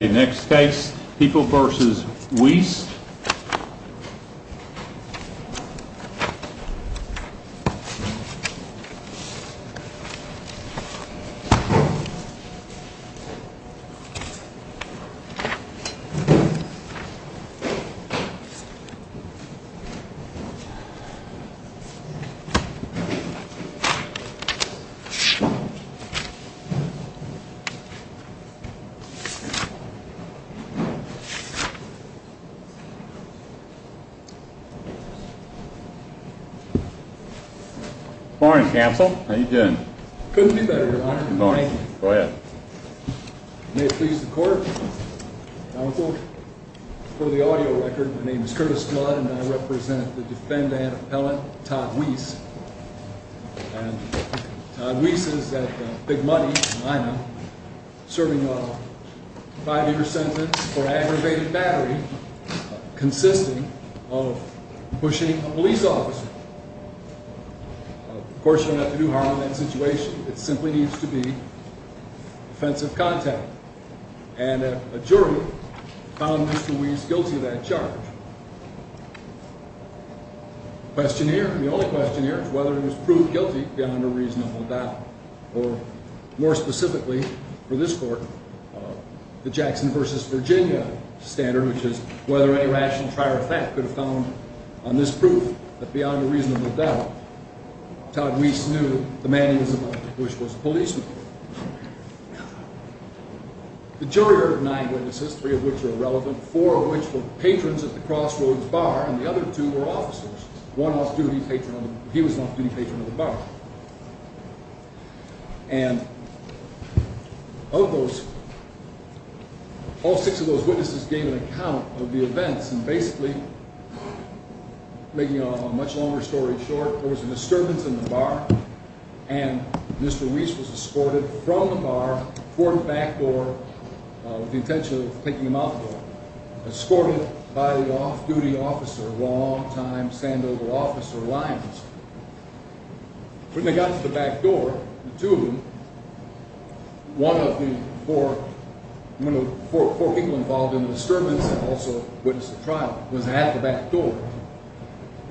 Next case, People v. Weiss Good morning, counsel. How are you doing? Couldn't be better, your honor. Good morning. Go ahead. May it please the court, counsel, for the audio record, my name is Curtis Blood and I represent the defendant appellant, Todd Weiss. Todd Weiss is at Big Money, serving a five-year sentence for aggravated battery consisting of pushing a police officer. Of course, you don't have to do harm in that situation. It simply needs to be defensive contact. And a jury found Mr. Weiss guilty of that charge. The only question here is whether he was proved guilty beyond a reasonable doubt. Or, more specifically for this court, the Jackson v. Virginia standard, which is whether any rational trier of fact could have found on this proof that beyond a reasonable doubt, Todd Weiss knew the man he was about to push was a policeman. The jury heard nine witnesses, three of which are irrelevant, four of which were patrons at the Crossroads Bar, and the other two were officers. One was a duty patron, he was an off-duty patron of the bar. And of those, all six of those witnesses gave an account of the events, and basically, making a much longer story short, there was a disturbance in the bar, and Mr. Weiss was escorted from the bar toward the back door with the intention of taking him out the door. Escorted by the off-duty officer, long-time Sandoval officer, Lyons. When they got to the back door, the two of them, one of the four, one of the four people involved in the disturbance, also a witness at trial, was at the back door.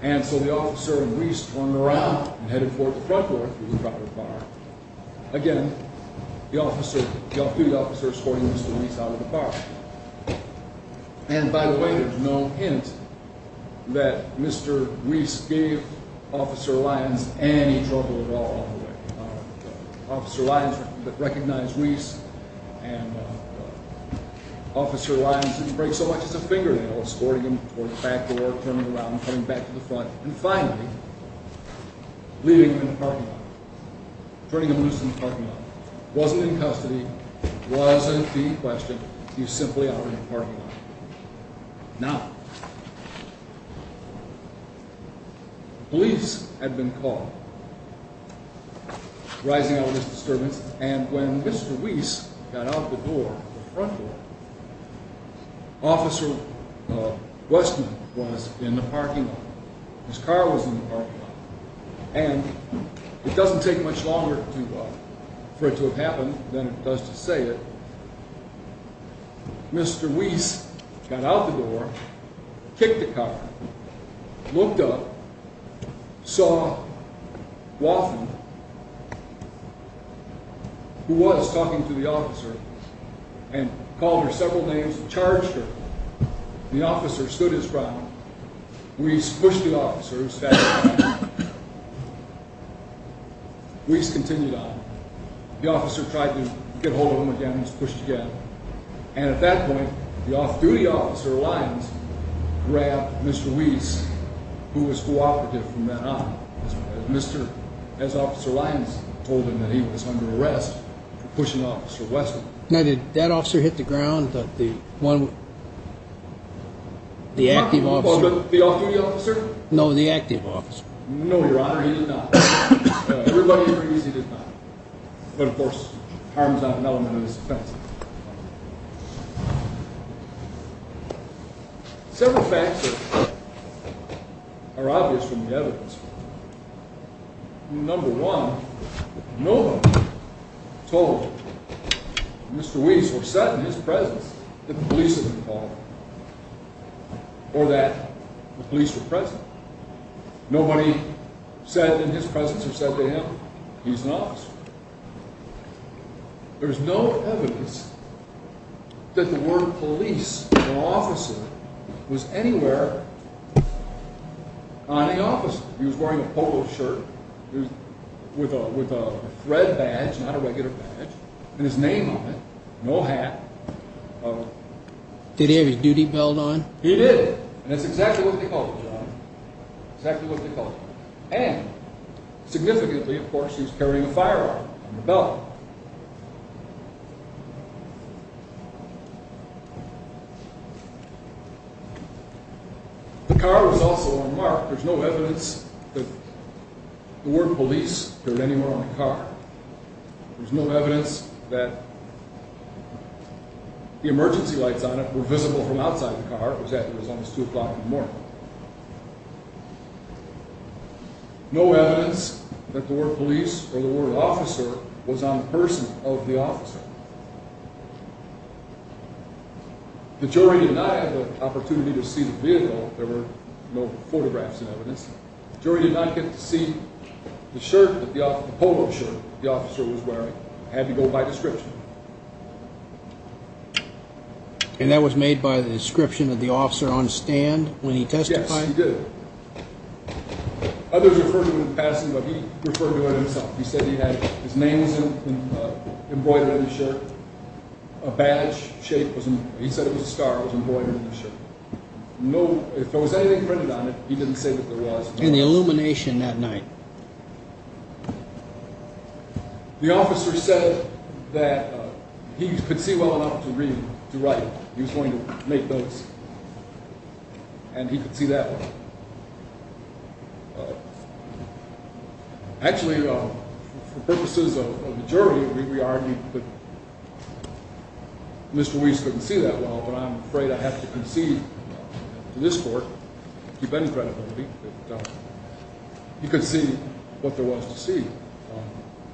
And so the officer and Weiss turned around and headed toward the front door of the Crossroads Bar. Again, the off-duty officer escorted Mr. Weiss out of the bar. And by the way, there's no hint that Mr. Weiss gave Officer Lyons any trouble at all, all the way. Officer Lyons recognized Weiss, and Officer Lyons didn't break so much as a fingernail, escorting him toward the back door, turning around, coming back to the front. And finally, leaving him in the parking lot, turning him loose in the parking lot, wasn't in custody, wasn't in question, he was simply out in the parking lot. Now, police had been called, rising out of this disturbance, and when Mr. Weiss got out the door, the front door, Officer Westman was in the parking lot, Ms. Carr was in the parking lot, and it doesn't take much longer for it to have happened than it does to say it. Mr. Weiss got out the door, kicked the car, looked up, saw Wathen, who was talking to the officer, and called her several names and charged her. The officer stood his ground. Weiss pushed the officer who was standing behind him. Weiss continued on. The officer tried to get hold of him again, he was pushed again. And at that point, the off-duty officer, Lyons, grabbed Mr. Weiss, who was cooperative from then on. As Officer Lyons told him that he was under arrest for pushing Officer Westman. Now, did that officer hit the ground, the one, the active officer? The off-duty officer? No, the active officer. No, Your Honor, he did not. Everybody agrees he did not. But of course, harm is not an element of this offense. Several facts are obvious from the evidence. Number one, no one told Mr. Weiss or said in his presence that the police had been called or that the police were present. Nobody said in his presence or said to him, he's an officer. There's no evidence that the word police or officer was anywhere on the officer. He was wearing a polo shirt with a thread badge, not a regular badge, and his name on it, no hat. Did he have his duty belt on? He did, and that's exactly what they called him, Your Honor, exactly what they called him. And significantly, of course, he was carrying a firearm and a belt. The car was also unmarked. There's no evidence that the word police appeared anywhere on the car. There's no evidence that the emergency lights on it were visible from outside the car, which happened to be almost 2 o'clock in the morning. No evidence that the word police or the word officer was on the person of the officer. The jury did not have the opportunity to see the vehicle. There were no photographs and evidence. The jury did not get to see the shirt, the polo shirt the officer was wearing. It had to go by description. And that was made by the description of the officer on stand when he testified? He did. Others referred to him in passing, but he referred to it himself. He said his name was embroidered on the shirt. A badge shape, he said it was a star, was embroidered on the shirt. If there was anything printed on it, he didn't say that there was. And the illumination that night? The officer said that he could see well enough to read, to write. He was going to make notes. And he could see that well. Actually, for purposes of the jury, we argued that Mr. Weiss couldn't see that well, but I'm afraid I have to concede to this court. He could see what there was to see.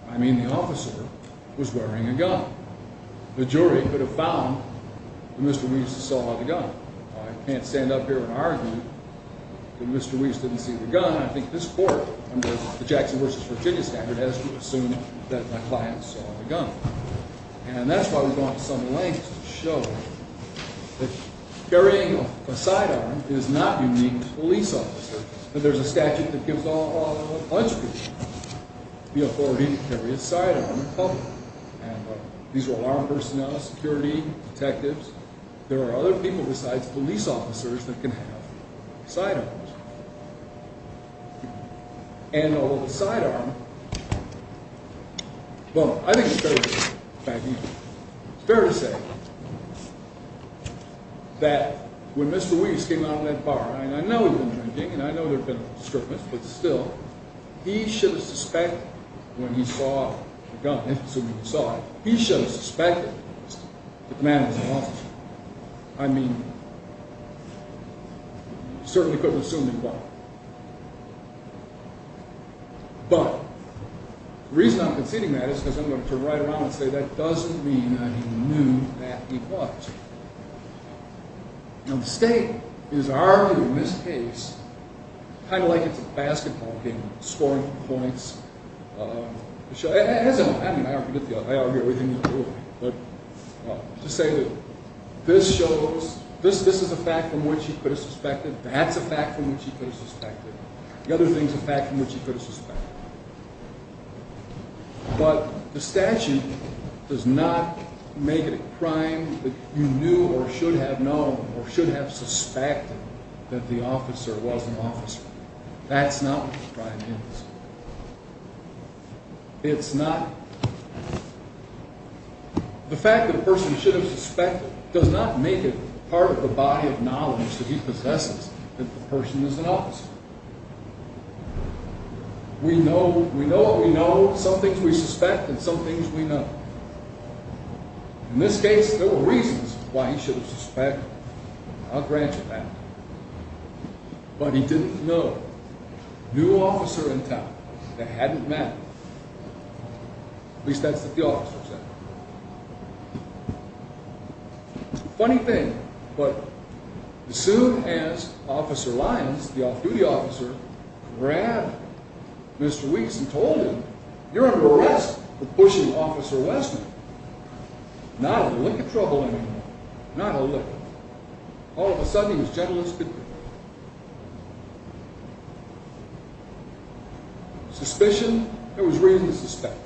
I mean, the officer was wearing a gun. The jury could have found that Mr. Weiss saw the gun. I can't stand up here and argue that Mr. Weiss didn't see the gun. I think this court, under the Jackson v. Virginia standard, has to assume that my client saw the gun. And that's why we're going to some lengths to show that carrying a sidearm is not unique to police officers. That there's a statute that gives all of the police officers the authority to carry a sidearm in public. And these are all armed personnel, security, detectives. There are other people besides police officers that can have sidearms. And a little sidearm, well, I think it's fair to say, in fact, it's fair to say, that when Mr. Weiss came out of that bar, and I know he'd been drinking, and I know there'd been a little disturbance, but still, he should have suspected when he saw the gun, he should have suspected that the man was an officer. I mean, he certainly couldn't have assumed he'd bought it. But, the reason I'm conceding that is because I'm going to turn right around and say that doesn't mean I knew that he bought it. Now, the state is arguing in this case, kind of like it's a basketball game, scoring points. I mean, I don't forget the other, I argue everything he's doing. But, to say that this shows, this is a fact from which he could have suspected, that's a fact from which he could have suspected. The other thing's a fact from which he could have suspected. But, the statute does not make it a crime that you knew or should have known or should have suspected that the officer was an officer. That's not what the crime is. It's not, the fact that a person should have suspected does not make it part of the body of knowledge that he possesses that the person is an officer. We know, we know what we know, some things we suspect and some things we know. In this case, there were reasons why he should have suspected. I'll grant you that. But, he didn't know. New officer in town that hadn't met, at least that's what the officer said. Funny thing, but as soon as Officer Lyons, the off-duty officer, grabbed Mr. Weeks and told him, you're under arrest for pushing Officer Westman. Not a lick of trouble anymore, not a lick. All of a sudden, he was gentle as could be. Suspicion, there was reason to suspect.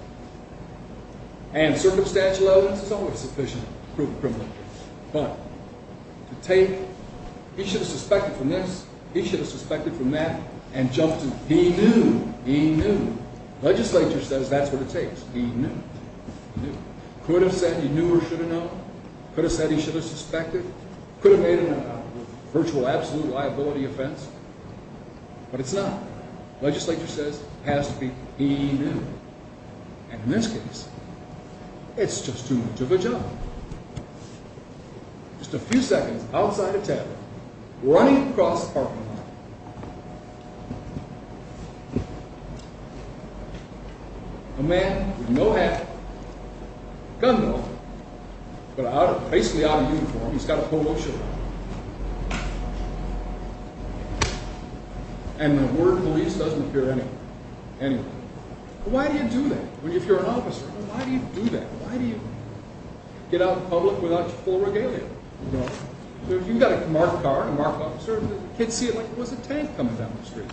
And circumstantial evidence is always sufficient to prove a criminal case. But, to take he should have suspected from this, he should have suspected from that, and jump to he knew, he knew. Legislature says that's what it takes. He knew, he knew. Could have said he knew or should have known. Could have said he should have suspected. Could have made a virtual absolute liability offense, but it's not. Legislature says it has to be he knew. And in this case, it's just too much of a jump. Just a few seconds outside a tavern, running across a parking lot. A man with no hat, gun though, but basically out of uniform, he's got a polo shirt on. And the word police doesn't appear anywhere. Why do you do that? If you're an officer, why do you do that? Why do you get out in public without your full regalia? You've got a marked car, a marked officer, kids see it like it was a tank coming down the street.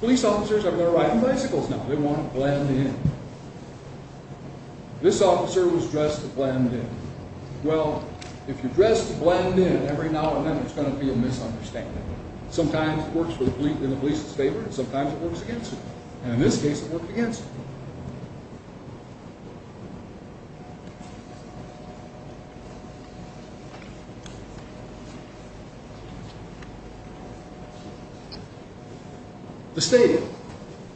Police officers are going to ride on bicycles now. They want to blend in. This officer was dressed to blend in. Well, if you're dressed to blend in, every now and then there's going to be a misunderstanding. Sometimes it works in the police's favor. Sometimes it works against you. And in this case, it worked against me. The state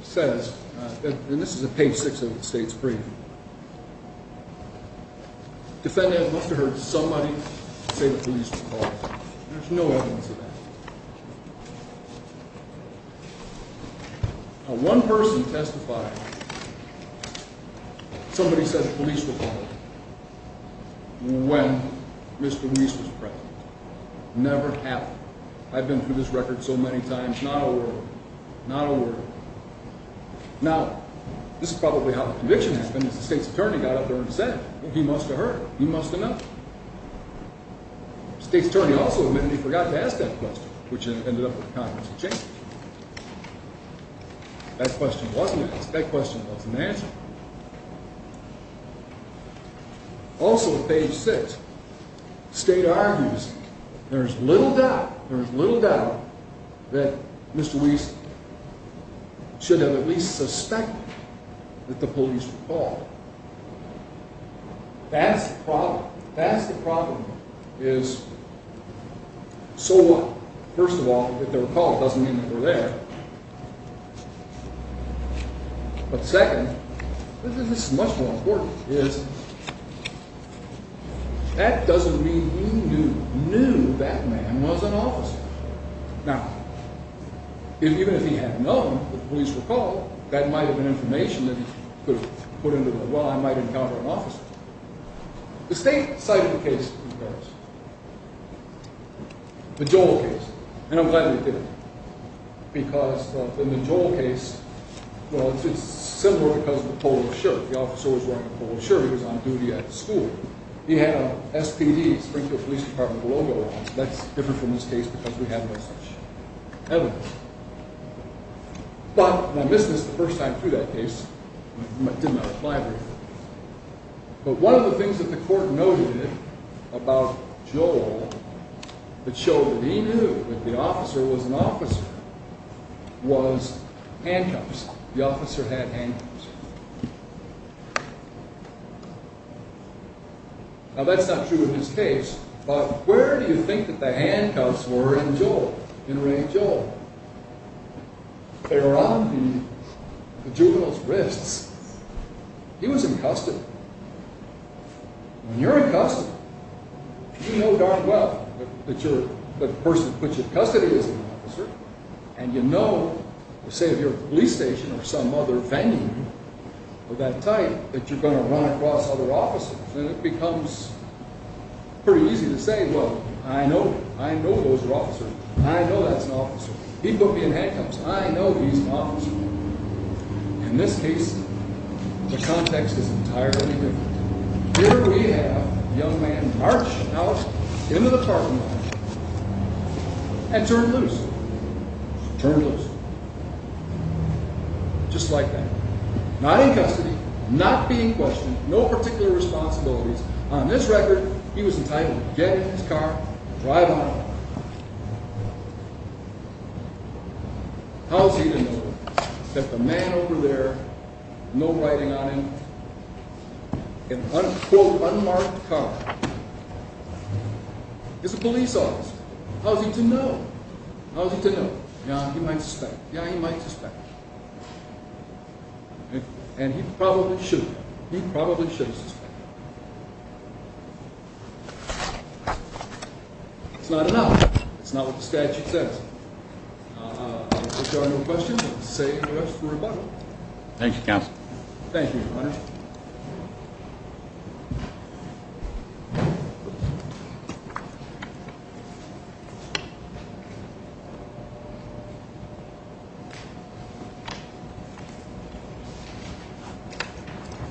says, and this is a page six of the state's brief. Defendant must have heard somebody say the police were involved. There's no evidence of that. Now, one person testified. Somebody said the police were involved when Mr. Reese was present. Never happened. I've been through this record so many times. Not a word. Not a word. Now, this is probably how the conviction happened. The state's attorney got up there and said, well, he must have heard. He must have known. State's attorney also admitted he forgot to ask that question, which ended up with the Congress of Changes. That question wasn't asked. That question wasn't answered. Also at page six, the state argues there's little doubt, there's little doubt that Mr. Reese should have at least suspected that the police were involved. That's the problem. That's the problem is, so what? First of all, if they were called, it doesn't mean that they were there. But second, this is much more important, is that doesn't mean he knew, knew that man was an officer. Now, even if he had known that the police were called, that might have been information that he could have put into, well, I might encounter an officer. The state cited a case in Congress. The Joel case. And I'm glad they did it. Because in the Joel case, well, it's similar because of the polo shirt. The officer was wearing a polo shirt. He was on duty at the school. He had an SPD, Springfield Police Department, logo on. That's different from this case because we have no such evidence. But when I missed this the first time through that case, it didn't apply very well. But one of the things that the court noted about Joel that showed that he knew that the officer was an officer was handcuffs. The officer had handcuffs. Now, that's not true in this case. But where do you think that the handcuffs were in Joel, in Ray Joel? They were on the juvenile's wrists. He was in custody. When you're in custody, you know darn well that the person who puts you in custody is an officer. And you know, say if you're at the police station or some other venue of that type, that you're going to run across other officers. And it becomes pretty easy to say, well, I know him. I know those are officers. I know that's an officer. He put me in handcuffs. I know he's an officer. In this case, the context is entirely different. Here we have a young man march out into the parking lot and turn loose. Turn loose. Just like that. Not in custody. Not being questioned. No particular responsibilities. On this record, he was entitled to get in his car and drive home. How's he to know that the man over there, no writing on him, in unquote unmarked car, is a police officer? How's he to know? How's he to know? Yeah, he might suspect. Yeah, he might suspect. And he probably should. He probably should suspect. It's not enough. It's not what the statute says. If there are no questions, we'll say the rest of the rebuttal. Thank you, Counsel. Thank you, Your Honor. Thank you.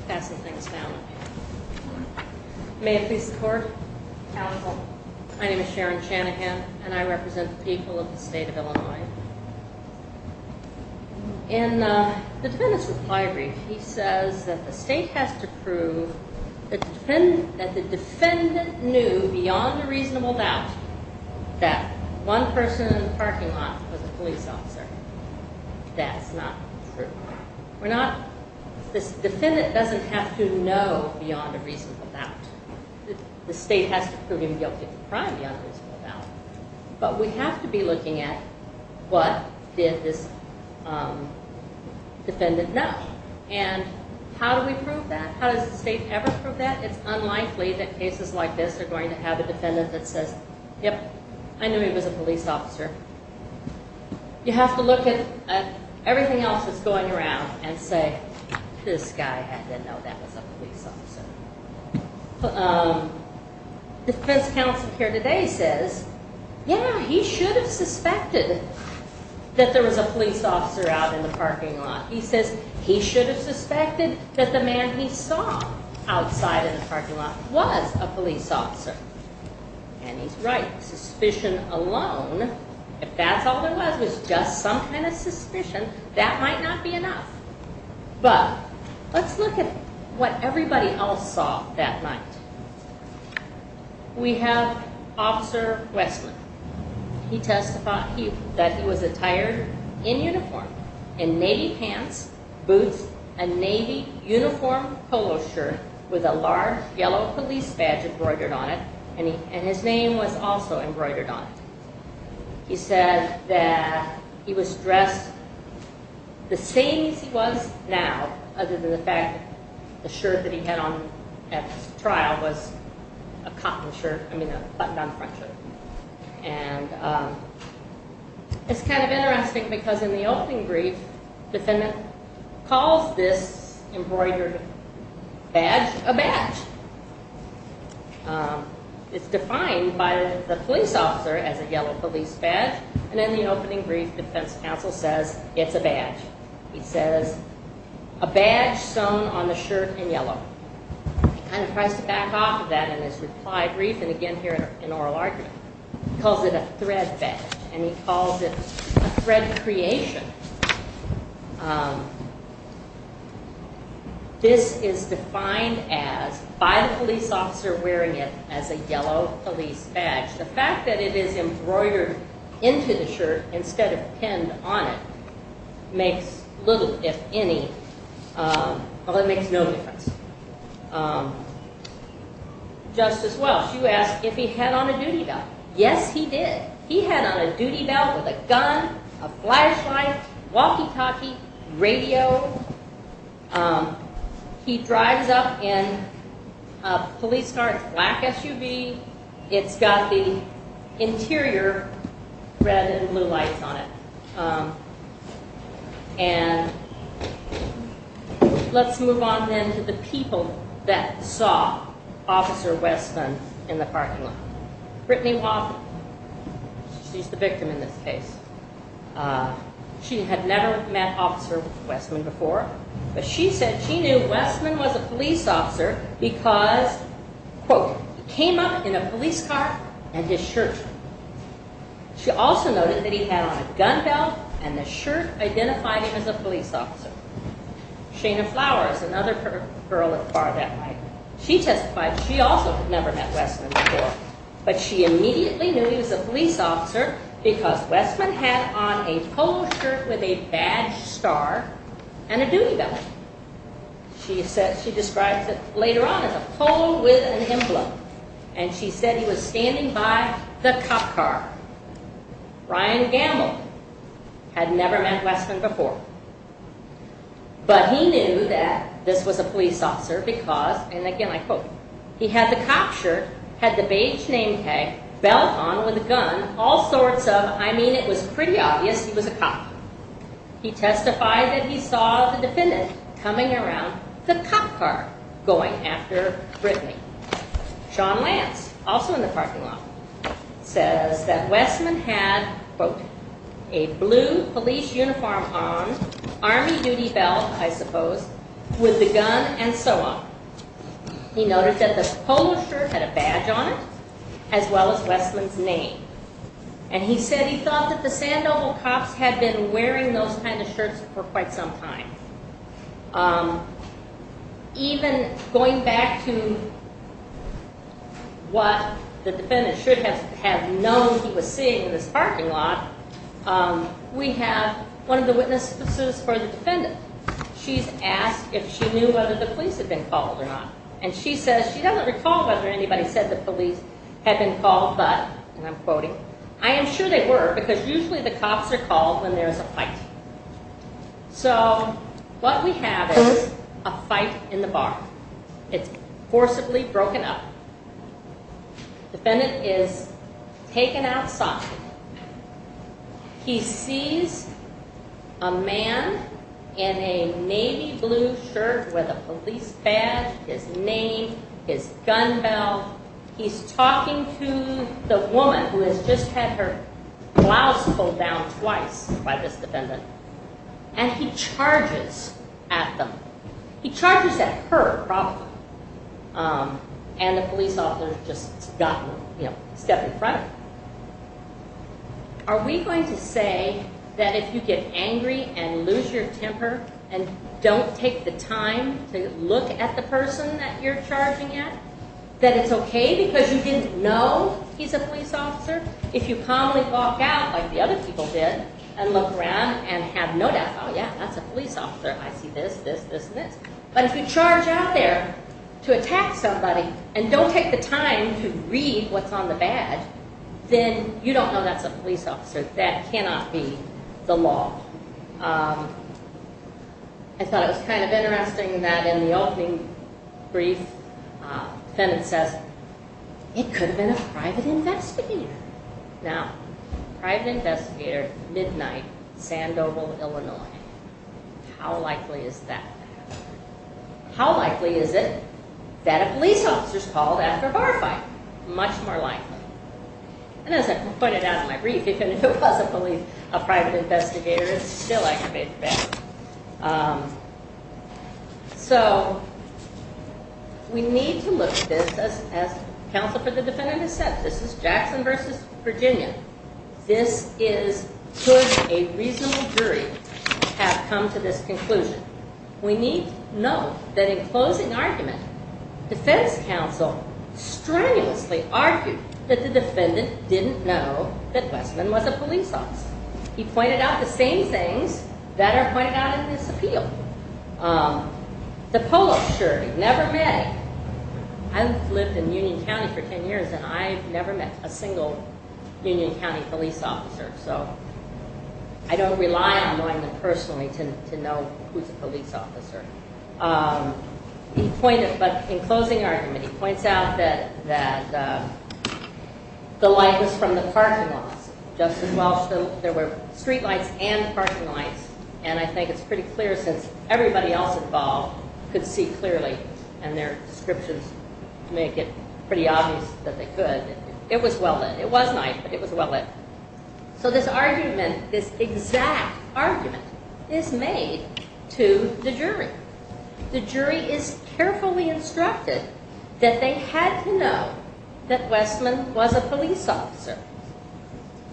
Pass the things down. May it please the Court. Counsel. My name is Sharon Shanahan, and I represent the people of the state of Illinois. In the defendant's reply brief, he says that the state has to prove that the defendant knew beyond a reasonable doubt that one person in the parking lot was a police officer. That's not true. We're not, this defendant doesn't have to know beyond a reasonable doubt. The state has to prove him guilty of a crime beyond a reasonable doubt. But we have to be looking at what did this defendant know, and how do we prove that? How does the state ever prove that? It's unlikely that cases like this are going to have a defendant that says, yep, I knew he was a police officer. You have to look at everything else that's going around and say, this guy had to know that was a police officer. The defense counsel here today says, yeah, he should have suspected that there was a police officer out in the parking lot. He says he should have suspected that the man he saw outside in the parking lot was a police officer. And he's right. Suspicion alone, if that's all there was, was just some kind of suspicion, that might not be enough. But let's look at what everybody else saw that night. We have Officer Westman. He testified that he was attired in uniform, in navy pants, boots, a navy uniform polo shirt with a large yellow police badge embroidered on it. And his name was also embroidered on it. He said that he was dressed the same as he was now, other than the fact that the shirt that he had on at the trial was a cotton shirt, I mean a button-down front shirt. And it's kind of interesting because in the opening brief, the defendant calls this embroidered badge a badge. It's defined by the police officer as a yellow police badge. And in the opening brief, the defense counsel says it's a badge. He says a badge sewn on the shirt in yellow. He kind of tries to back off of that in his reply brief and again here in oral argument. He calls it a thread badge. And he calls it a thread creation. This is defined by the police officer wearing it as a yellow police badge. The fact that it is embroidered into the shirt instead of pinned on it makes little, if any, well it makes no difference. Justice Welch, you asked if he had on a duty belt. Yes, he did. He had on a duty belt with a gun, a flashlight, walkie-talkie, radio. He drives up in a police car. It's a black SUV. It's got the interior red and blue lights on it. And let's move on then to the people that saw Officer Weston in the parking lot. Brittany Watham. She's the victim in this case. She had never met Officer Weston before. But she said she knew Weston was a police officer because, quote, he came up in a police car and his shirt. She also noted that he had on a gun belt and the shirt identified him as a police officer. Shana Flowers, another girl at Bardet, she testified she also had never met Weston before. But she immediately knew he was a police officer because Weston had on a polo shirt with a badge star and a duty belt. She describes it later on as a polo with an emblem. And she said he was standing by the cop car. Ryan Gamble had never met Weston before. But he knew that this was a police officer because, and again I quote, he had the cop shirt, had the badge name tag, belt on with a gun, all sorts of, I mean it was pretty obvious he was a cop. He testified that he saw the defendant coming around the cop car going after Brittany. Sean Lance, also in the parking lot, says that Weston had, quote, a blue police uniform on, army duty belt I suppose, with the gun and so on. He noted that the polo shirt had a badge on it as well as Weston's name. And he said he thought that the Sandoval cops had been wearing those kind of shirts for quite some time. Even going back to what the defendant should have known he was seeing in this parking lot, we have one of the witnesses for the defendant. She's asked if she knew whether the police had been called or not. And she says she doesn't recall whether anybody said the police had been called but, and I'm quoting, I am sure they were because usually the cops are called when there's a fight. So what we have is a fight in the bar. It's forcibly broken up. Defendant is taken out soft. He sees a man in a navy blue shirt with a police badge, his name, his gun belt. He's talking to the woman who has just had her blouse pulled down twice by this defendant. And he charges at them. He charges at her, probably. And the police officer just got, you know, step in front. Are we going to say that if you get angry and lose your temper and don't take the time to look at the person that you're charging at, that it's okay because you didn't know he's a police officer? If you calmly walk out like the other people did and look around and have no doubt, oh yeah, that's a police officer, I see this, this, this, and this. But if you charge out there to attack somebody and don't take the time to read what's on the badge, then you don't know that's a police officer. That cannot be the law. I thought it was kind of interesting that in the opening brief, defendant says, it could have been a private investigator. Now, private investigator, midnight, Sandoval, Illinois. How likely is that? How likely is it that a police officer is called after a bar fight? Much more likely. And as I pointed out in my brief, even if it was a police, a private investigator is still aggravated. So, we need to look at this as counsel for the defendant has said. This is Jackson versus Virginia. This is, could a reasonable jury have come to this conclusion? We need to know that in closing argument, defense counsel strenuously argued that the defendant didn't know that Westman was a police officer. He pointed out the same things that are pointed out in this appeal. The polo shirt, he never met him. I've lived in Union County for 10 years and I've never met a single Union County police officer. So, I don't rely on knowing them personally to know who's a police officer. He pointed, but in closing argument, he points out that the light was from the parking lots. Justice Walsh, there were street lights and parking lights. And I think it's pretty clear since everybody else involved could see clearly and their descriptions make it pretty obvious that they could. It was well lit. It was night, but it was well lit. So, this argument, this exact argument is made to the jury. The jury is carefully instructed that they had to know that Westman was a police officer.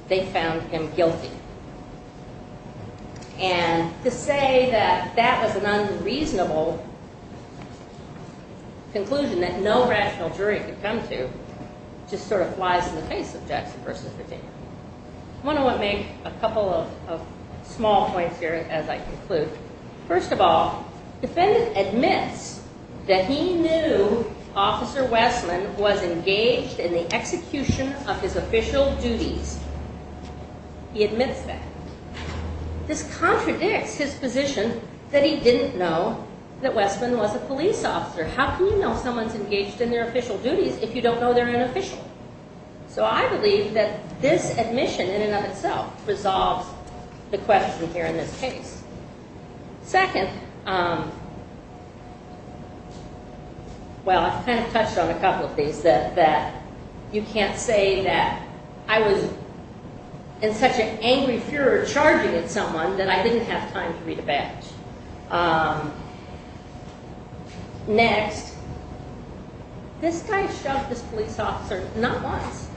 They found him guilty. And to say that that was an unreasonable conclusion that no rational jury could come to just sort of flies in the face of Jackson versus Virginia. I want to make a couple of small points here as I conclude. First of all, defendant admits that he knew Officer Westman was engaged in the execution of his official duties. He admits that. This contradicts his position that he didn't know that Westman was a police officer. How can you know someone's engaged in their official duties if you don't know they're an official? So, I believe that this admission in and of itself resolves the question here in this case. Second, well, I've kind of touched on a couple of these that you can't say that I was in such an angry furor charging at someone that I didn't have time to read a badge. Next, this guy shoved this police officer not once,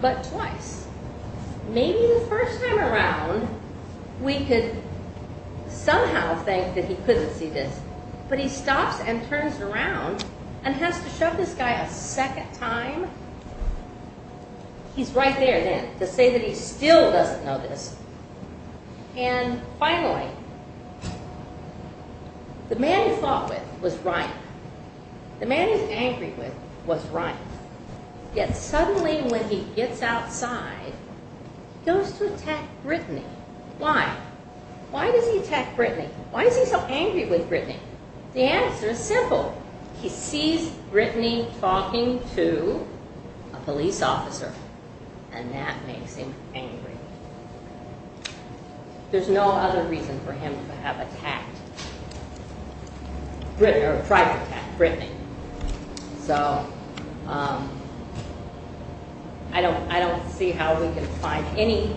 but twice. Maybe the first time around we could somehow think that he couldn't see this. But he stops and turns around and has to shove this guy a second time. He's right there then to say that he still doesn't know this. And finally, the man he fought with was right. The man he's angry with was right. Yet suddenly when he gets outside, he goes to attack Brittany. Why? Why does he attack Brittany? Why is he so angry with Brittany? The answer is simple. He sees Brittany talking to a police officer. And that makes him angry. There's no other reason for him to have attacked Brittany, or tried to attack Brittany. So, I don't see how we can find any,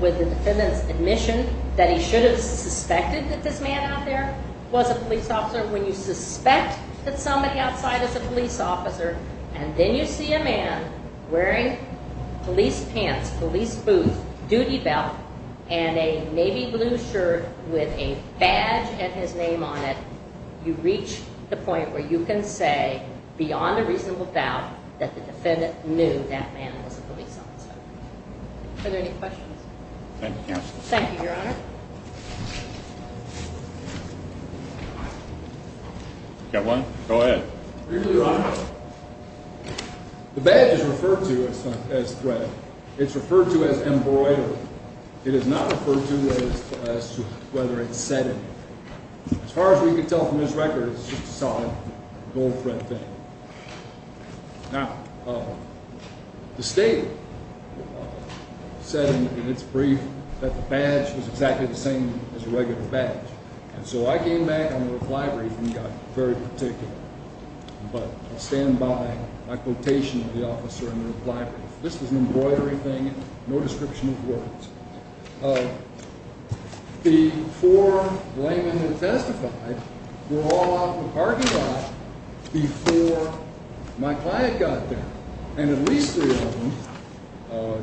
with the defendant's admission, that he should have suspected that this man out there was a police officer when you suspect that somebody outside is a police officer and then you see a man wearing police pants, police boots, duty belt, and a navy blue shirt with a badge and his name on it, you reach the point where you can say, beyond a reasonable doubt, that the defendant knew that man was a police officer. Are there any questions? Thank you, Counsel. Thank you, Your Honor. Got one? Go ahead. Thank you, Your Honor. The badge is referred to as threatened. It's referred to as embroidered. It is not referred to as whether it's set in. As far as we can tell from this record, it's just a solid gold thread thing. Now, the state said in its brief that the badge was exactly the same as a regular badge. And so I came back on the reply brief and got very particular. But I stand by my quotation of the officer in the reply brief. This is an embroidery thing, no description of words. The four laymen that testified were all out in the parking lot before my client got there. And at least three of them,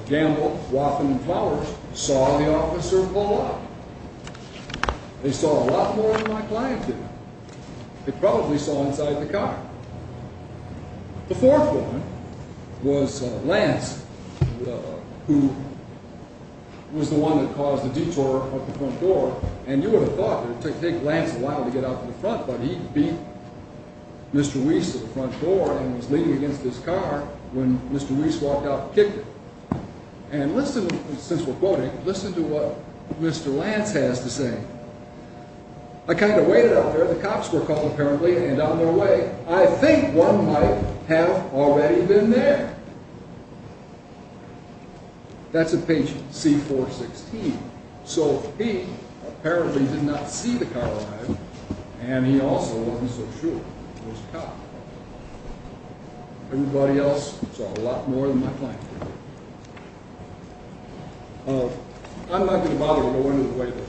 Gamble, Waffen, and Powers, saw the officer blow up. They saw a lot more than my client did. They probably saw inside the car. The fourth one was Lance, who was the one that caused the detour of the front door. And you would have thought that it would take Lance a while to get out to the front, but he beat Mr. Weiss to the front door and was leaning against his car when Mr. Weiss walked out and kicked him. And listen, since we're quoting, listen to what Mr. Lance has to say. I kind of waited out there. The cops were called apparently and on their way. I think one might have already been there. That's in page C416. So he apparently did not see the car arrive, and he also wasn't so sure it was a cop. Everybody else saw a lot more than my client did. I'm not going to bother to go into the way that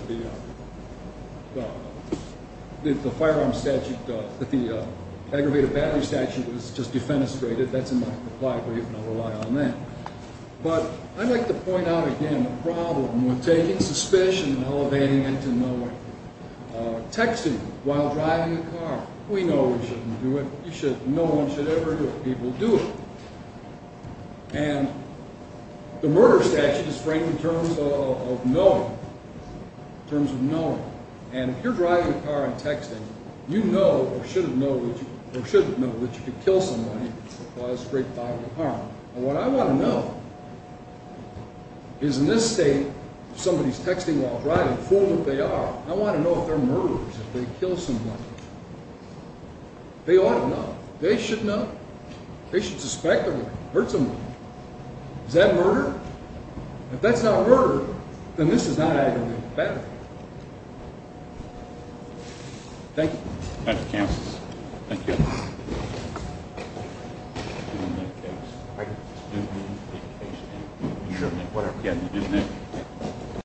the firearm statute, that the aggravated battery statute was just defenestrated. That's in my reply brief, and I'll rely on that. But I'd like to point out again the problem with taking suspicion and elevating it to no one. Texting while driving a car, we know we shouldn't do it. No one should ever do it. People do it. And the murder statute is framed in terms of knowing, in terms of knowing. And if you're driving a car and texting, you know or should know that you could kill someone and cause great bodily harm. And what I want to know is in this state, if somebody's texting while driving, fool them if they are. I want to know if they're murderers, if they kill someone. They ought to know. They should know. They should suspect or hurt someone. Is that murder? If that's not murder, then this is not aggravated battery. Thank you.